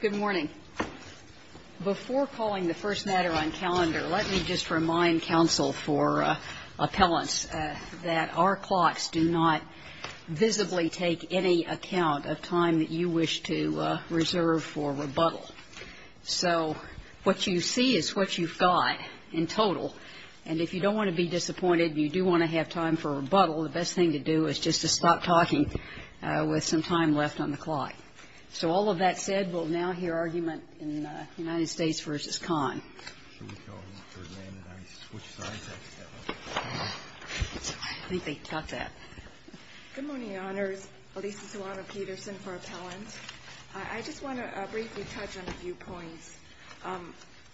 Good morning. Before calling the first matter on calendar, let me just remind counsel for appellants that our clocks do not visibly take any account of time that you wish to reserve for rebuttal. So what you see is what you've got in total, and if you don't want to be disappointed and you do want to have time for rebuttal, the best thing to do is just to stop talking with some time left on the clock. So all of that said, we'll now hear argument in United States v. Khan. I think they got that. Good morning, Your Honors. Elisa Solano-Peterson for appellants. I just want to briefly touch on a few points.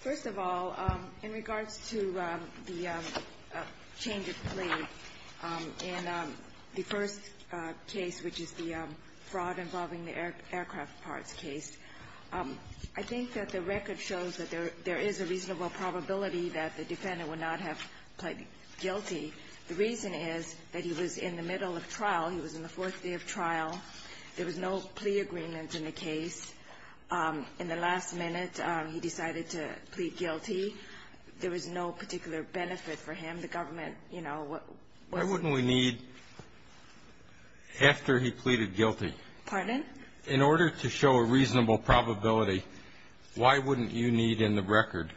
First of all, in regards to the change of plea in the first case, which is the fraud involving the aircraft parts case, I think that the record shows that there is a reasonable probability that the defendant would not have pled guilty. The reason is that he was in the middle of trial. He was in the fourth day of trial. There was no plea agreement in the case. In the last minute, he decided to plead guilty. There was no particular benefit for him. The government, you know, what was the need? Why wouldn't we need after he pleaded guilty? Pardon? In order to show a reasonable probability, why wouldn't you need in the record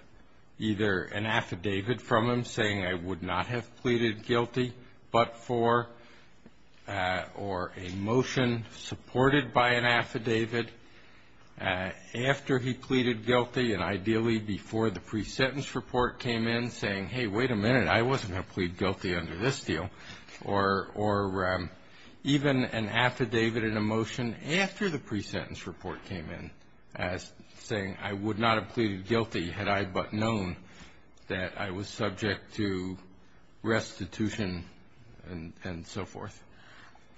either an affidavit from him saying, I would not have pleaded guilty, but for a motion supported by an affidavit after he pleaded guilty, and ideally before the pre-sentence report came in saying, hey, wait a minute, I wasn't going to plead guilty under this deal, or even an affidavit and a motion after the pre-sentence report came in saying, I would not have pleaded guilty had I but known that I was subject to restitution and so forth?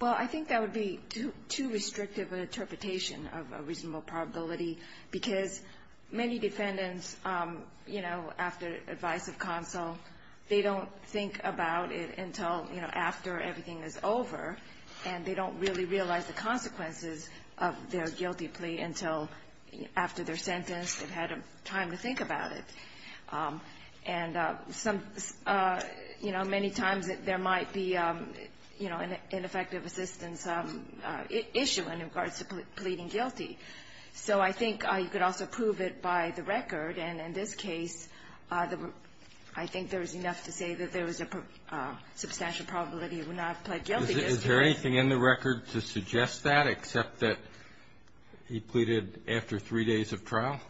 Well, I think that would be too restrictive an interpretation of a reasonable probability, because many defendants, you know, after advice of counsel, they don't think about it until, you know, after everything is over, and they don't really realize the consequences of their guilty plea until after they're sentenced and had time to think about it. And some, you know, many times there might be, you know, an ineffective assistance issue in regards to pleading guilty. So I think you could also prove it by the record. And in this case, I think there is enough to say that there was a substantial probability he would not have pleaded guilty. Is there anything in the record to suggest that, except that he pleaded after three days of trial?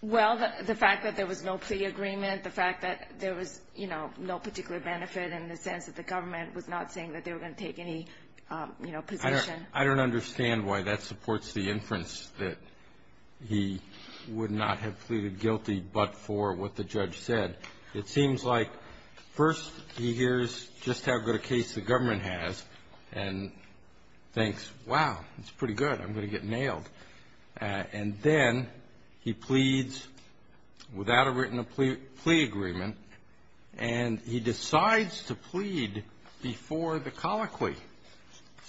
Well, the fact that there was no plea agreement, the fact that there was, you know, no particular benefit in the sense that the government was not saying that they were going to take any, you know, position. I don't understand why that supports the inference that he would not have pleaded guilty but for what the judge said. It seems like first he hears just how good a case the government has and thinks, wow, that's pretty good, I'm going to get nailed. And then he pleads without a written plea agreement, and he decides to plead before the colloquy.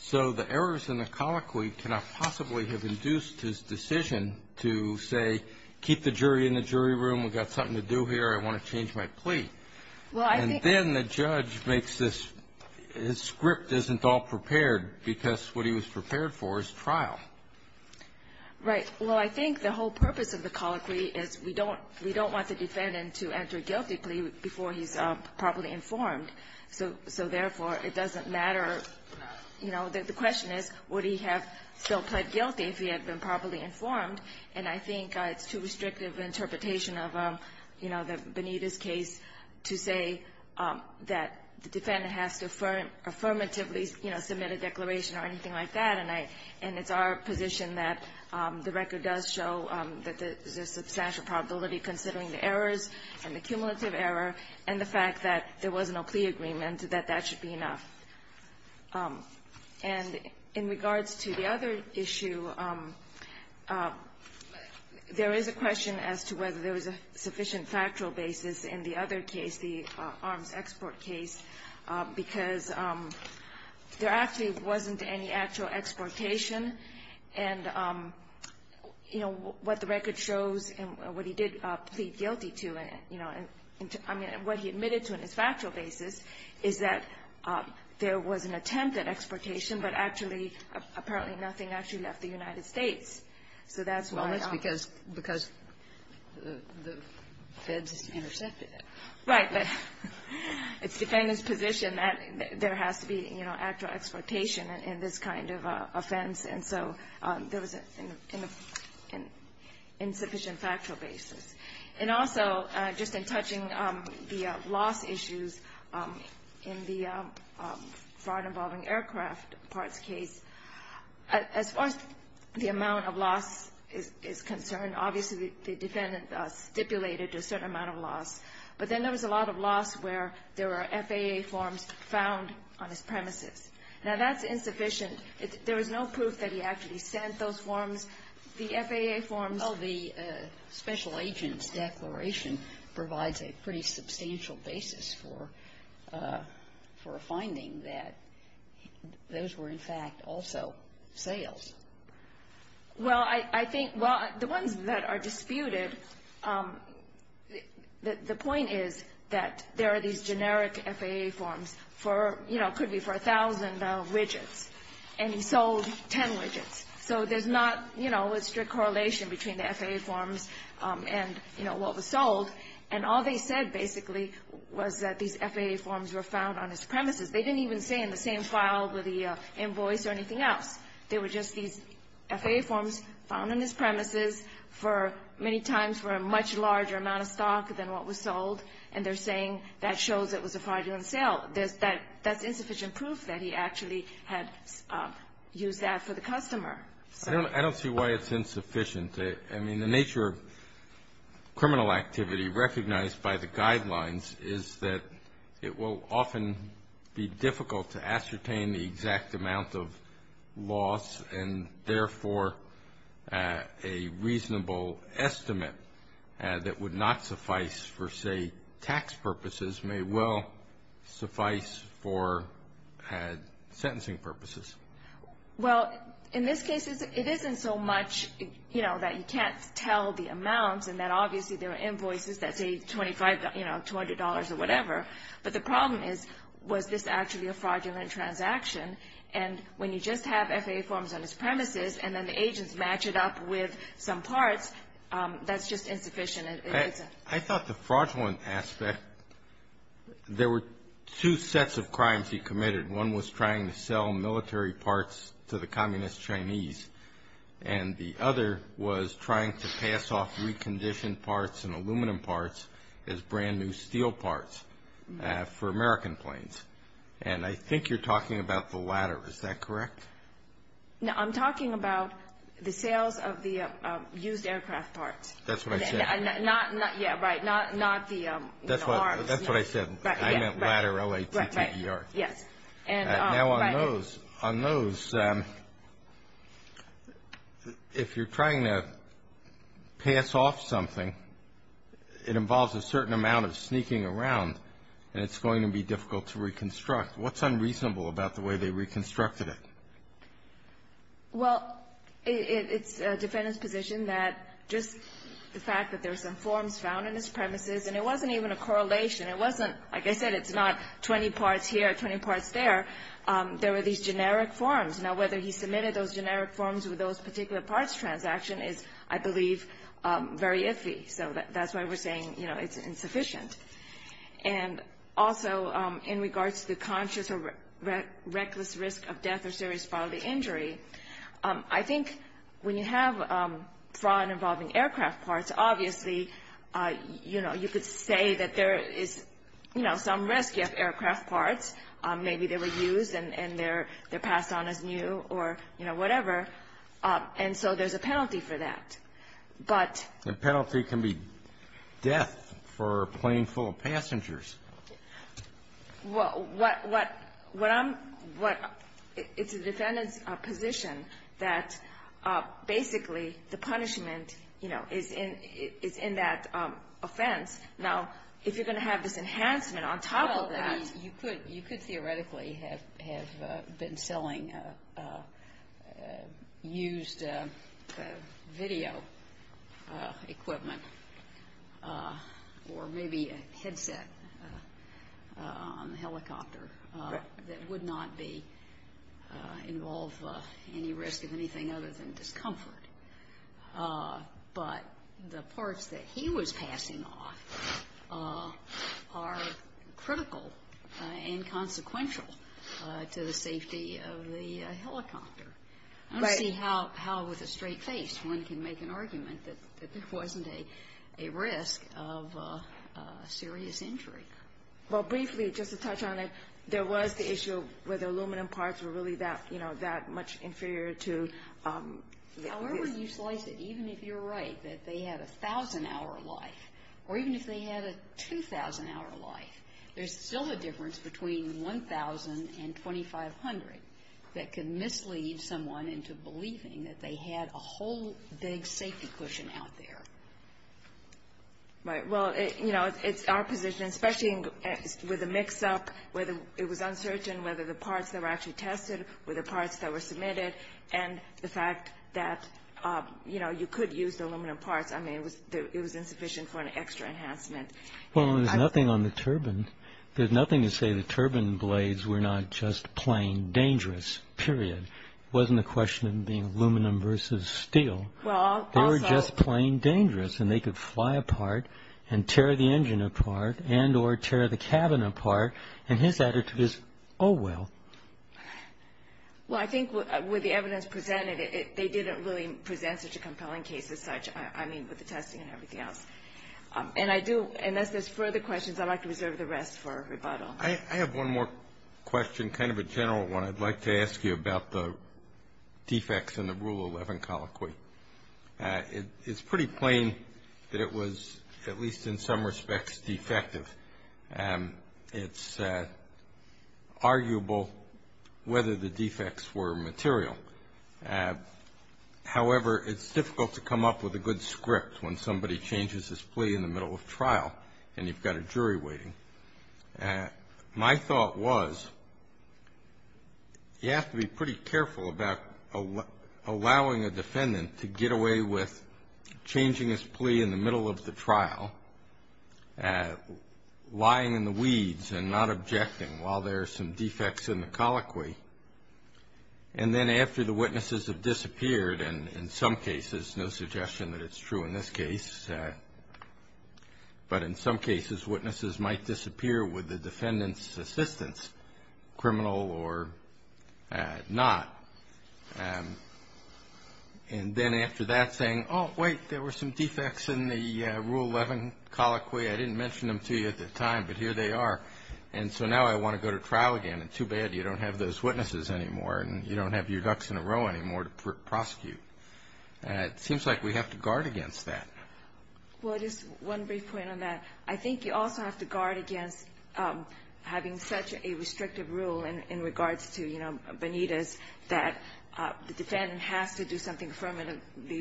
So the errors in the colloquy cannot possibly have induced his decision to say, keep the jury in the jury room, we've got something to do here, I want to change my plea. And then the judge makes this, his script isn't all prepared, because what he was prepared for is trial. Right. Well, I think the whole purpose of the colloquy is we don't want the defendant to enter a guilty plea before he's properly informed. So therefore, it doesn't matter, you know, the question is, would he have still pled guilty if he had been properly informed? And I think it's too restrictive an interpretation of, you know, the Benitez case to say that the defendant has to affirmatively, you know, submit a declaration or anything like that, and I – and it's our position that the record does show that there's a substantial probability, considering the errors and the cumulative error, and the fact that there was no plea agreement, that that should be enough. And in regards to the other issue, there is a question as to whether there was a sufficient factual basis in the other case, the arms export case, because there actually wasn't any actual exportation, and, you know, what the record shows and what he did plead guilty to in, you know, in – I mean, what he admitted to in his factual basis is that there was an attempt at exportation, but actually, apparently, nothing actually left the United States. So that's why – Well, that's because the Feds intercepted it. Right. But it's the defendant's position that there has to be, you know, actual exportation in this kind of offense, and so there was an insufficient factual basis. And also, just in touching the loss issues in the fraud-involving aircraft parts case, as far as the amount of loss is concerned, obviously, the defendant stipulated a certain amount of loss, but then there was a lot of loss where there were FAA forms found on his premises. Now, that's insufficient. There is no proof that he actually sent those forms. The FAA forms – Well, the special agent's declaration provides a pretty substantial basis for a finding that those were, in fact, also sales. Well, I think – well, the ones that are disputed, the point is that there are these And he sold 10 widgets. So there's not, you know, a strict correlation between the FAA forms and, you know, what was sold. And all they said, basically, was that these FAA forms were found on his premises. They didn't even say in the same file with the invoice or anything else. They were just these FAA forms found on his premises for many times for a much larger amount of stock than what was sold, and they're saying that shows it was a fraudulent sale. Well, that's insufficient proof that he actually had used that for the customer. I don't see why it's insufficient. I mean, the nature of criminal activity recognized by the guidelines is that it will often be difficult to ascertain the exact amount of loss and, therefore, a reasonable estimate that would not suffice for, say, tax purposes may well suffice for sentencing purposes. Well, in this case, it isn't so much, you know, that you can't tell the amounts and that, obviously, there are invoices that say $200 or whatever. But the problem is, was this actually a fraudulent transaction? And when you just have FAA forms on his premises and then the agents match it up with some parts, that's just insufficient. I thought the fraudulent aspect, there were two sets of crimes he committed. One was trying to sell military parts to the Communist Chinese, and the other was trying to pass off reconditioned parts and aluminum parts as brand-new steel parts for American planes. And I think you're talking about the latter. Is that correct? No, I'm talking about the sales of the used aircraft parts. That's what I said. Yeah, right. Not the arms. That's what I said. I meant latter, L-A-T-T-E-R. Yes. Now, on those, if you're trying to pass off something, it involves a certain amount of sneaking around, and it's going to be difficult to reconstruct. What's unreasonable about the way they reconstructed it? Well, it's a defendant's position that just the fact that there are some forms found on his premises, and it wasn't even a correlation. It wasn't, like I said, it's not 20 parts here, 20 parts there. There were these generic forms. Now, whether he submitted those generic forms with those particular parts transaction is, I believe, very iffy. So that's why we're saying, you know, it's insufficient. And also, in regards to the conscious or reckless risk of death or serious bodily injury, I think when you have fraud involving aircraft parts, obviously, you know, you could say that there is, you know, some risk. You have aircraft parts. Maybe they were used and they're passed on as new or, you know, whatever. And so there's a penalty for that. The penalty can be death for a plane full of passengers. Well, what I'm what it's a defendant's position that basically the punishment, you know, is in that offense. Now, if you're going to have this enhancement on top of that. You could theoretically have been selling used video equipment or maybe a headset on the helicopter that would not involve any risk of anything other than discomfort. But the parts that he was passing off are critical and consequential to the safety of the helicopter. I don't see how with a straight face one can make an argument that there wasn't a risk of serious injury. Well, briefly, just to touch on it, there was the issue where the aluminum parts were really that, you know, that much inferior to. However you slice it, even if you're right that they had a thousand-hour life, or even if they had a 2,000-hour life, there's still a difference between 1,000 and 2,500 that can mislead someone into believing that they had a whole big safety cushion out there. Right. Well, you know, it's our position, especially with the mix-up, whether it was uncertain whether the parts that were actually tested were the parts that were submitted, and the fact that, you know, you could use the aluminum parts. I mean, it was insufficient for an extra enhancement. Well, there's nothing on the turbine. There's nothing to say the turbine blades were not just plain dangerous, period. It wasn't a question of being aluminum versus steel. They were just plain dangerous, and they could fly apart and tear the engine apart and or tear the cabin apart, and his attitude is, oh, well. Well, I think with the evidence presented, they didn't really present such a compelling case as such, I mean, with the testing and everything else. And I do, unless there's further questions, I'd like to reserve the rest for rebuttal. I have one more question, kind of a general one. I'd like to ask you about the defects in the Rule 11 colloquy. It's pretty plain that it was, at least in some respects, defective. It's arguable whether the defects were material. However, it's difficult to come up with a good script when somebody changes his plea in the middle of trial and you've got a jury waiting. My thought was you have to be pretty careful about allowing a defendant to get away with changing his plea in the middle of the trial, lying in the weeds and not objecting while there are some defects in the colloquy. And then after the witnesses have disappeared, and in some cases, no suggestion that it's true in this case, but in some cases, witnesses might disappear with the defendant's assistance, criminal or not. And then after that, saying, oh, wait, there were some defects in the Rule 11 colloquy. I didn't mention them to you at the time, but here they are. And so now I want to go to trial again, and too bad you don't have those witnesses anymore and you don't have your ducks in a row anymore to prosecute. It seems like we have to guard against that. Well, just one brief point on that. I think you also have to guard against having such a restrictive rule in regards to Benitez that the defendant has to do something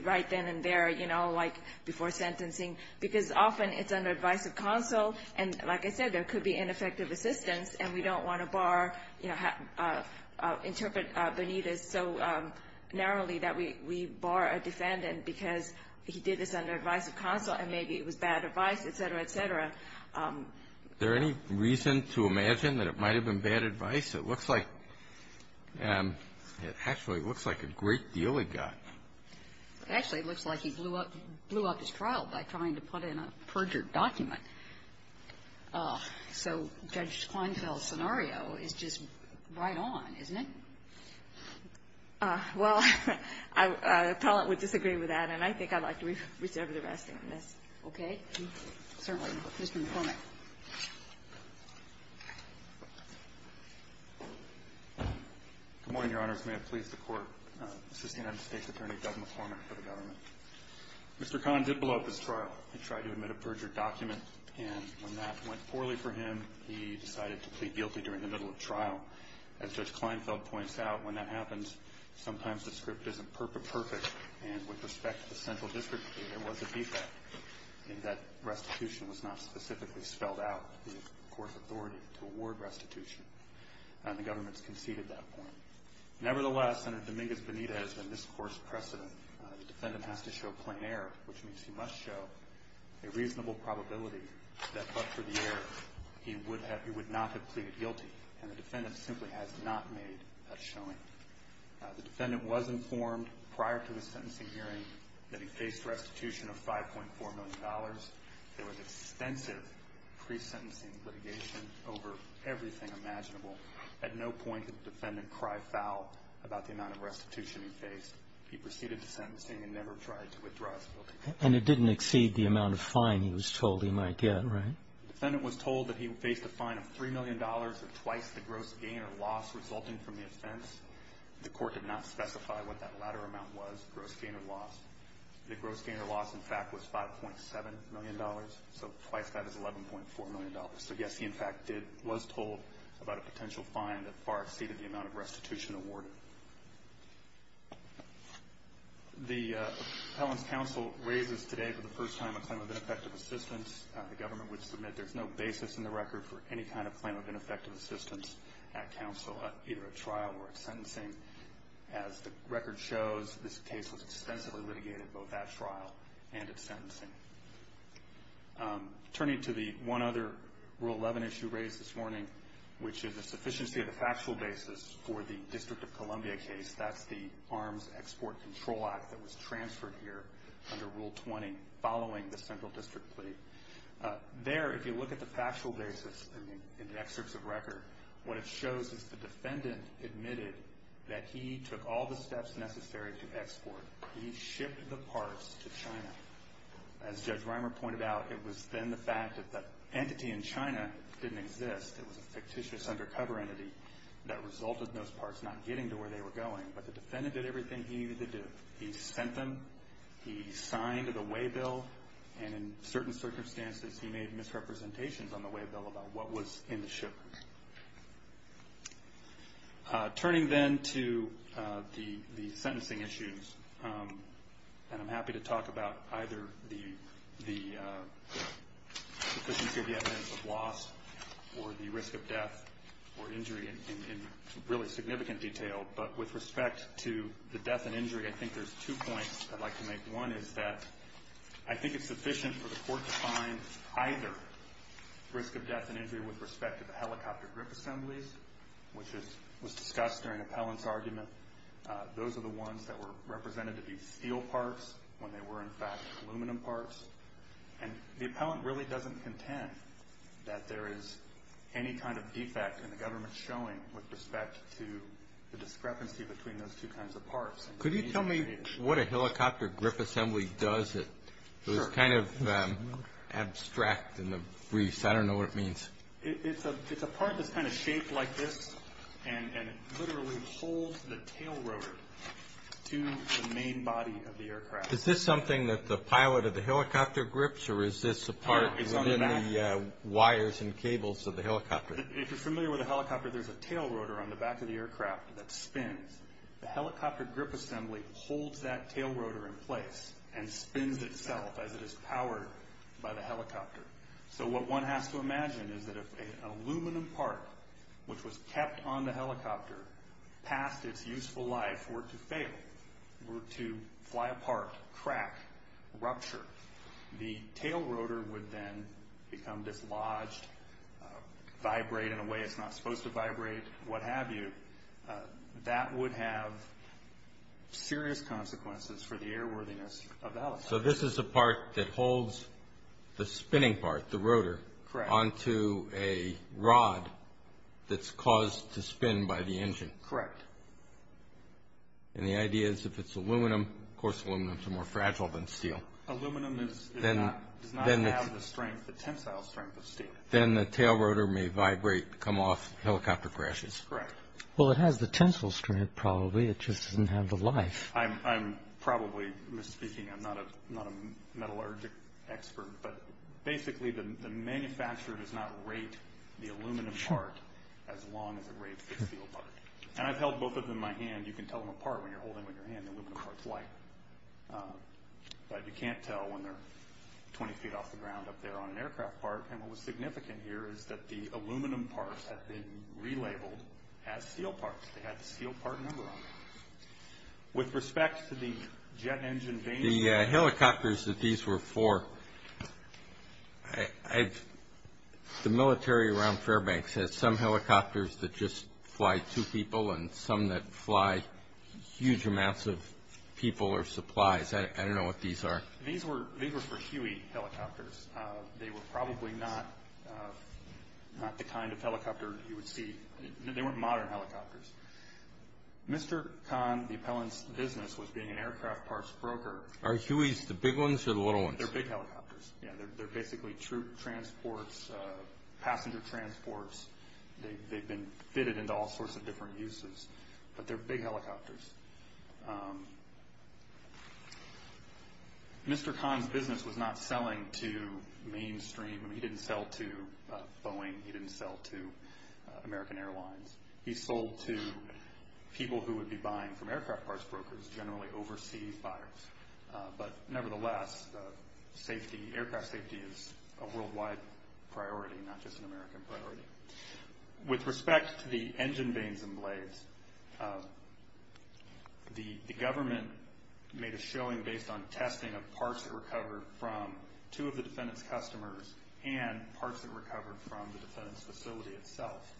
right then and there, you know, like before sentencing, because often it's under advice of counsel, and like I said, there could be ineffective assistance, and we don't want to bar, you know, interpret Benitez so narrowly that we bar a defendant because he did this under advice of counsel, and maybe it was bad advice, et cetera, et cetera. Is there any reason to imagine that it might have been bad advice? It looks like it actually looks like a great deal he got. It actually looks like he blew up his trial by trying to put in a perjured document. So Judge Kleinfeld's scenario is just right on, isn't it? Well, an appellant would disagree with that, and I think I'd like to reserve the rest of this. Okay. Certainly. Mr. McCormick. Good morning, Your Honors. May it please the Court. This is the United States Attorney, Doug McCormick, for the government. Mr. Kahn did blow up his trial. He tried to admit a perjured document, and when that went poorly for him, he decided to plead guilty during the middle of trial. As Judge Kleinfeld points out, when that happens, sometimes the script isn't perfect, and with respect to the Central District, there was a defect, and that restitution was not specifically spelled out. The Court's authority to award restitution, and the government's conceded that point. Nevertheless, Senator Dominguez-Benitez, in this Court's precedent, the defendant has to show plain error, which means he must show a reasonable probability that but for the error, he would not have pleaded guilty, and the defendant simply has not made that showing. The defendant was informed prior to his sentencing hearing that he faced restitution of $5.4 million. There was extensive pre-sentencing litigation over everything imaginable. At no point did the defendant cry foul about the amount of restitution he faced. He proceeded to sentencing and never tried to withdraw his guilty plea. And it didn't exceed the amount of fine he was told he might get, right? The defendant was told that he faced a fine of $3 million or twice the gross gain or loss resulting from the offense. The Court did not specify what that latter amount was, gross gain or loss. The gross gain or loss, in fact, was $5.7 million, so twice that is $11.4 million. So, yes, he, in fact, was told about a potential fine that far exceeded the amount of restitution awarded. The Appellant's Counsel raises today for the first time a claim of ineffective assistance. The government would submit there's no basis in the record for any kind of claim of ineffective assistance at counsel, either at trial or at sentencing. As the record shows, this case was extensively litigated both at trial and at sentencing. Turning to the one other Rule 11 issue raised this morning, which is a sufficiency of the factual basis for the District of Columbia case. That's the Arms Export Control Act that was transferred here under Rule 20 following the Central District plea. There, if you look at the factual basis in the excerpts of record, what it shows is the defendant admitted that he took all the steps necessary to export. He shipped the parts to China. As Judge Reimer pointed out, it was then the fact that the entity in China didn't exist. It was a fictitious undercover entity that resulted in those parts not getting to where they were going. But the defendant did everything he needed to do. He sent them, he signed the waybill, and in certain circumstances he made misrepresentations on the waybill about what was in the ship. Turning then to the sentencing issues, and I'm happy to talk about either the sufficiency of the evidence of loss or the risk of death or injury in really significant detail. But with respect to the death and injury, I think there's two points I'd like to make. One is that I think it's sufficient for the court to find either risk of death and injury with respect to the helicopter grip assemblies, which was discussed during appellant's argument. Those are the ones that were represented to be steel parts when they were in fact aluminum parts. And the appellant really doesn't contend that there is any kind of defect in the government's showing with respect to the discrepancy between those two kinds of parts. Could you tell me what a helicopter grip assembly does? It was kind of abstract in the briefs. I don't know what it means. It's a part that's kind of shaped like this, and it literally holds the tail rotor to the main body of the aircraft. Is this something that the pilot of the helicopter grips, or is this a part within the wires and cables of the helicopter? If you're familiar with a helicopter, there's a tail rotor on the back of the aircraft that spins. The helicopter grip assembly holds that tail rotor in place and spins itself as it is powered by the helicopter. So what one has to imagine is that if an aluminum part, which was kept on the helicopter past its useful life, were to fail, were to fly apart, crack, rupture, the tail rotor would then become dislodged, vibrate in a way it's not supposed to vibrate, what have you. That would have serious consequences for the airworthiness of the helicopter. So this is a part that holds the spinning part, the rotor, onto a rod that's caused to spin by the engine. Correct. And the idea is if it's aluminum, of course aluminum is more fragile than steel. Aluminum does not have the strength, the tensile strength of steel. Then the tail rotor may vibrate, come off, helicopter crashes. Correct. Well, it has the tensile strength probably, it just doesn't have the life. I'm probably misspeaking. I'm not a metallurgic expert. But basically the manufacturer does not rate the aluminum part as long as it rates the steel part. And I've held both of them in my hand. You can tell them apart when you're holding them in your hand. The aluminum part's light. But you can't tell when they're 20 feet off the ground up there on an aircraft part. And what was significant here is that the aluminum parts have been relabeled as steel parts. They have the steel part number on them. With respect to the jet engine vanes. The helicopters that these were for, the military around Fairbanks has some helicopters that just fly two people and some that fly huge amounts of people or supplies. I don't know what these are. These were for Huey helicopters. They were probably not the kind of helicopter you would see. They weren't modern helicopters. Mr. Kahn, the appellant's business was being an aircraft parts broker. Are Hueys the big ones or the little ones? They're big helicopters. They're basically troop transports, passenger transports. They've been fitted into all sorts of different uses. But they're big helicopters. Mr. Kahn's business was not selling to mainstream. He didn't sell to Boeing. He didn't sell to American Airlines. He sold to people who would be buying from aircraft parts brokers, generally overseas buyers. But nevertheless, aircraft safety is a worldwide priority, not just an American priority. With respect to the engine vanes and blades, the government made a showing based on testing of parts that recovered from two of the defendant's customers and parts that recovered from the defendant's facility itself.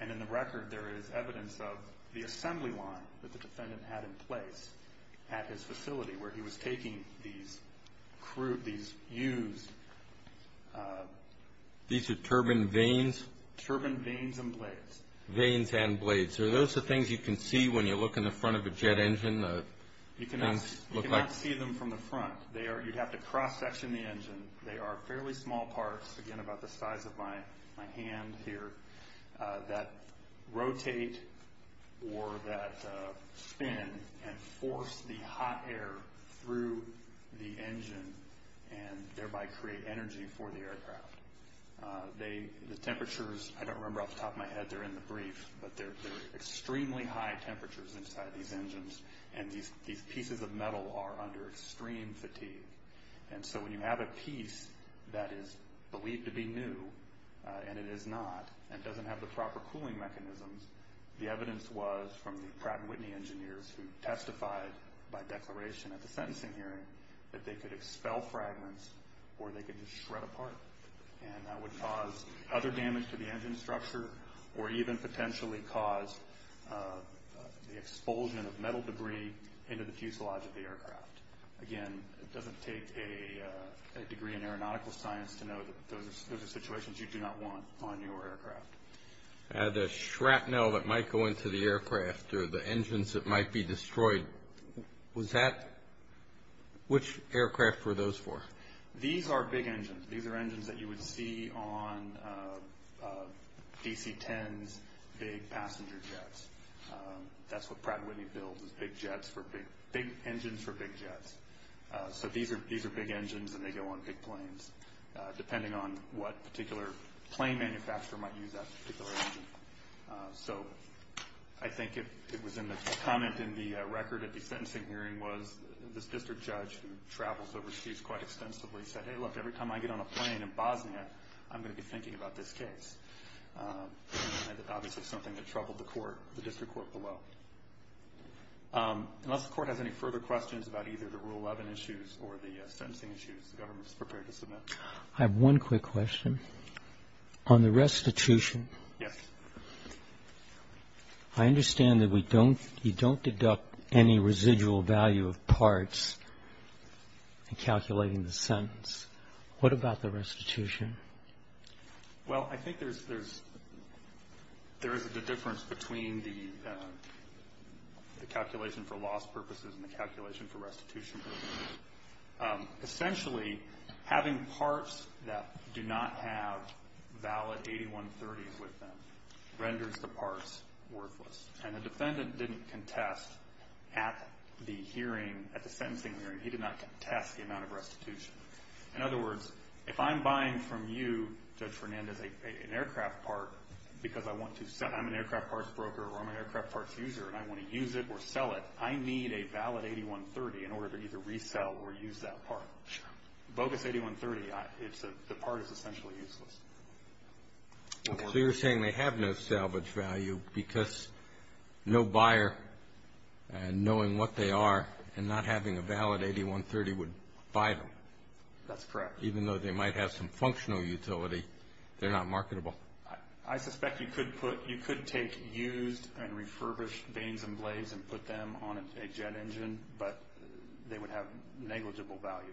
And in the record, there is evidence of the assembly line that the defendant had in place at his facility where he was taking these used— These are turbine vanes? Turbine vanes and blades. Vanes and blades. Are those the things you can see when you look in the front of a jet engine? You cannot see them from the front. You'd have to cross-section the engine. They are fairly small parts, again about the size of my hand here, that rotate or that spin and force the hot air through the engine and thereby create energy for the aircraft. The temperatures—I don't remember off the top of my head. They're in the brief. But they're extremely high temperatures inside these engines. And these pieces of metal are under extreme fatigue. And so when you have a piece that is believed to be new and it is not and doesn't have the proper cooling mechanisms, the evidence was from the Pratt & Whitney engineers who testified by declaration at the sentencing hearing that they could expel fragments or they could just shred apart. And that would cause other damage to the engine structure or even potentially cause the expulsion of metal debris into the fuselage of the aircraft. Again, it doesn't take a degree in aeronautical science to know that those are situations you do not want on your aircraft. The shrapnel that might go into the aircraft or the engines that might be destroyed, which aircraft were those for? These are big engines. These are engines that you would see on DC-10s, big passenger jets. That's what Pratt & Whitney builds is big engines for big jets. So these are big engines and they go on big planes, depending on what particular plane manufacturer might use that particular engine. So I think it was in the comment in the record at the sentencing hearing was this district judge who travels overseas quite extensively said, hey, look, every time I get on a plane in Bosnia, I'm going to be thinking about this case. Obviously something that troubled the court, the district court below. Unless the court has any further questions about either the Rule 11 issues or the sentencing issues, the government is prepared to submit. I have one quick question. On the restitution, I understand that you don't deduct any residual value of parts in calculating the sentence. What about the restitution? Well, I think there is a difference between the calculation for loss purposes and the calculation for restitution purposes. Essentially, having parts that do not have valid 8130s with them renders the parts worthless. And the defendant didn't contest at the hearing, at the sentencing hearing, he did not contest the amount of restitution. In other words, if I'm buying from you, Judge Fernandez, an aircraft part, because I'm an aircraft parts broker or I'm an aircraft parts user and I want to use it or sell it, I need a valid 8130 in order to either resell or use that part. Sure. Bogus 8130, the part is essentially useless. Okay. So you're saying they have no salvage value because no buyer, knowing what they are and not having a valid 8130 would buy them. That's correct. Even though they might have some functional utility, they're not marketable. I suspect you could take used and refurbished vanes and blades and put them on a jet engine, but they would have negligible value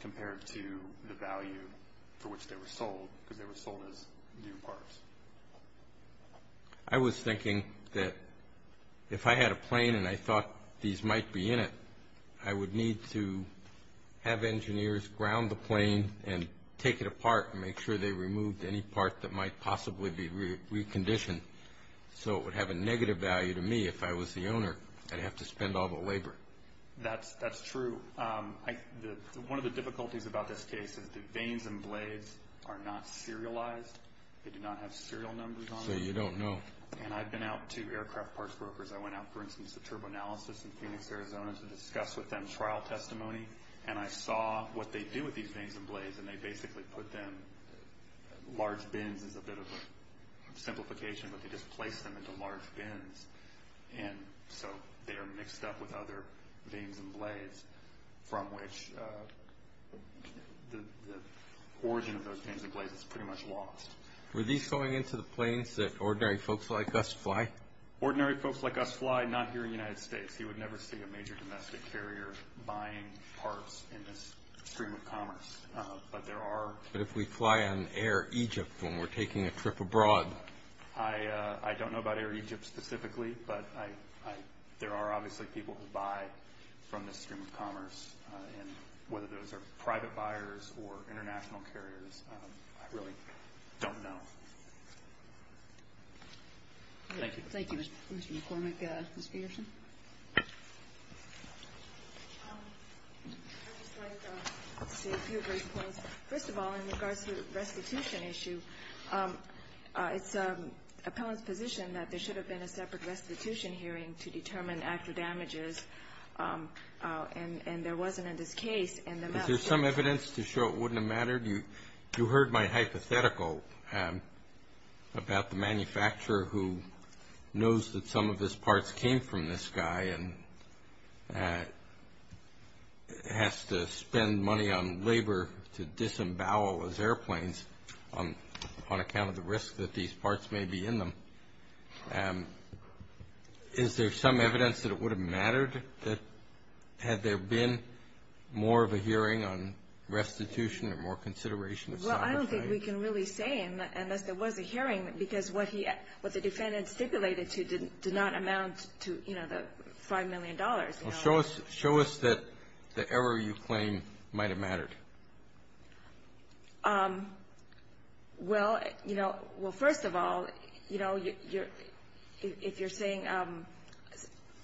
compared to the value for which they were sold, because they were sold as new parts. I was thinking that if I had a plane and I thought these might be in it, I would need to have engineers ground the plane and take it apart and make sure they removed any part that might possibly be reconditioned, so it would have a negative value to me if I was the owner. I'd have to spend all the labor. That's true. One of the difficulties about this case is the vanes and blades are not serialized. They do not have serial numbers on them. So you don't know. And I've been out to aircraft parts brokers. I went out, for instance, to Turbo Analysis in Phoenix, Arizona, to discuss with them trial testimony, and I saw what they do with these vanes and blades, and they basically put them, large bins is a bit of a simplification, but they just place them into large bins, and so they are mixed up with other vanes and blades from which the origin of those vanes and blades is pretty much lost. Were these going into the planes that ordinary folks like us fly? Ordinary folks like us fly, not here in the United States. You would never see a major domestic carrier buying parts in this stream of commerce, but there are. But if we fly on air Egypt when we're taking a trip abroad? I don't know about air Egypt specifically, but there are obviously people who buy from this stream of commerce, and whether those are private buyers or international carriers, I really don't know. Thank you. Thank you, Mr. McCormick. Ms. Peterson? I'd just like to say a few brief points. First of all, in regards to the restitution issue, it's appellant's position that there should have been a separate restitution hearing to determine actual damages, and there wasn't in this case. Is there some evidence to show it wouldn't have mattered? You heard my hypothetical about the manufacturer who knows that some of his parts came from this guy and has to spend money on labor to disembowel his airplanes on account of the risk that these parts may be in them. Is there some evidence that it would have mattered had there been more of a hearing on restitution or more consideration of sacrifice? Well, I don't think we can really say, unless there was a hearing, because what the defendant stipulated to did not amount to, you know, the $5 million. Well, show us that the error you claim might have mattered. Well, you know, well, first of all, you know, if you're saying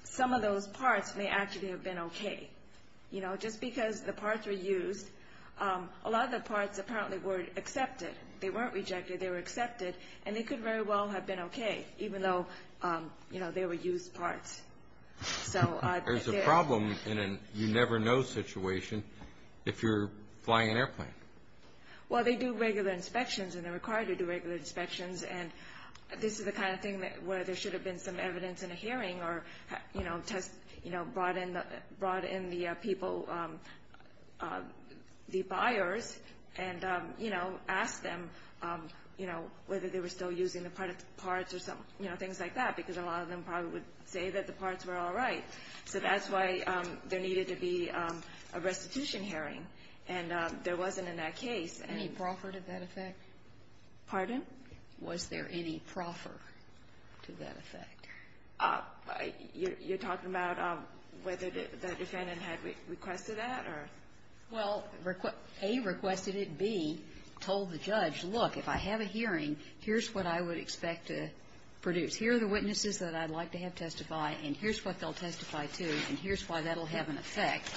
some of those parts may actually have been okay. You know, just because the parts were used, a lot of the parts apparently were accepted. They weren't rejected. They were accepted, and they could very well have been okay, even though, you know, they were used parts. There's a problem in a you-never-know situation if you're flying an airplane. Well, they do regular inspections, and they're required to do regular inspections, and this is the kind of thing where there should have been some evidence in a hearing or, you know, brought in the people, the buyers, and, you know, asked them, you know, whether they were still using the parts or something, you know, things like that, because a lot of them probably would say that the parts were all right. So that's why there needed to be a restitution hearing, and there wasn't in that case. Any proffer to that effect? Pardon? Was there any proffer to that effect? You're talking about whether the defendant had requested that or? Well, A, requested it. B, told the judge, look, if I have a hearing, here's what I would expect to produce. Here are the witnesses that I'd like to have testify, and here's what they'll testify to, and here's why that'll have an effect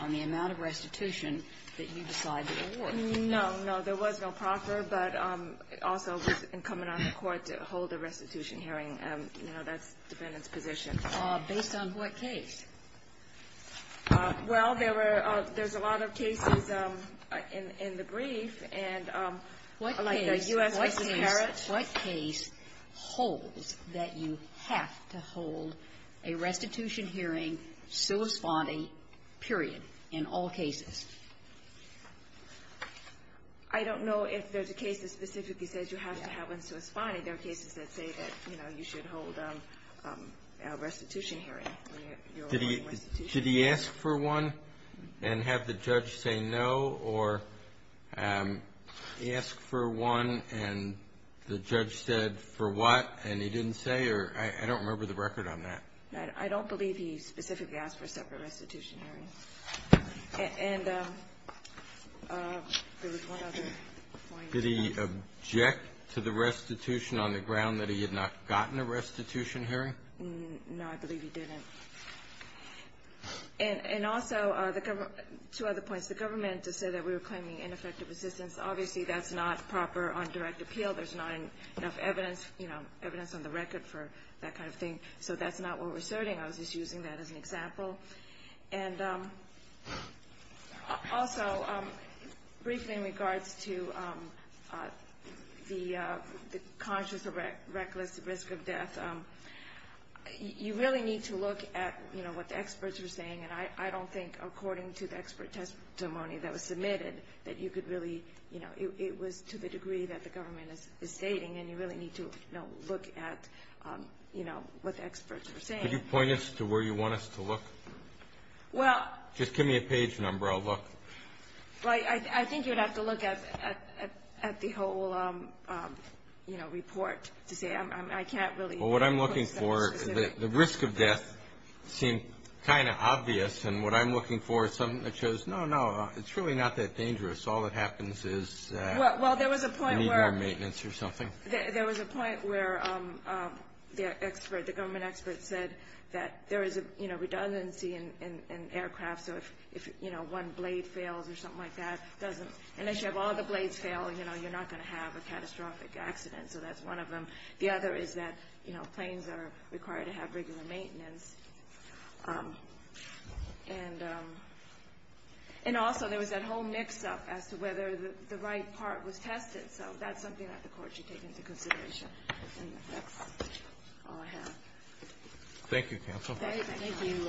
on the amount of restitution that you decide to award. No, no. There was no proffer, but it also was incumbent on the court to hold a restitution hearing, and, you know, that's the defendant's position. Based on what case? Well, there were – there's a lot of cases in the brief, and like the U.S. v. Parrott. What case holds that you have to hold a restitution hearing, suesponding, period, in all cases? I don't know if there's a case that specifically says you have to have one suesponding. There are cases that say that, you know, you should hold a restitution hearing. Did he ask for one and have the judge say no, or he asked for one and the judge said, for what, and he didn't say? Or I don't remember the record on that. I don't believe he specifically asked for a separate restitution hearing. And there was one other point. Did he object to the restitution on the ground that he had not gotten a restitution hearing? No, I believe he didn't. And also, two other points. The government said that we were claiming ineffective assistance. Obviously, that's not proper on direct appeal. There's not enough evidence, you know, evidence on the record for that kind of thing, so that's not what we're asserting. I was just using that as an example. And also, briefly in regards to the conscious or reckless risk of death, you really need to look at, you know, what the experts are saying, and I don't think, according to the expert testimony that was submitted, that you could really, you know, it was to the degree that the government is stating, and you really need to look at, you know, what the experts are saying. Could you point us to where you want us to look? Well. Just give me a page number. I'll look. Well, I think you'd have to look at the whole, you know, report to see. I can't really put something specific. Well, what I'm looking for, the risk of death seemed kind of obvious, and what I'm looking for is something that shows, no, no, it's really not that dangerous. All that happens is you need more maintenance or something. There was a point where the government expert said that there is, you know, redundancy in aircraft, so if, you know, one blade fails or something like that, unless you have all the blades fail, you know, you're not going to have a catastrophic accident. So that's one of them. The other is that, you know, planes are required to have regular maintenance. And also, there was that whole mix-up as to whether the right part was tested. So that's something that the court should take into consideration. And that's all I have. Thank you, counsel. Okay. Thank you,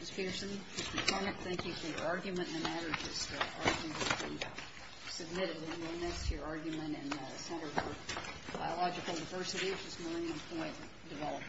Ms. Pierson. Mr. Conant, thank you for your argument in that. Thank you for submitting your argument in the Center for Biological Diversity, which is a Millennium Point development. Thank you.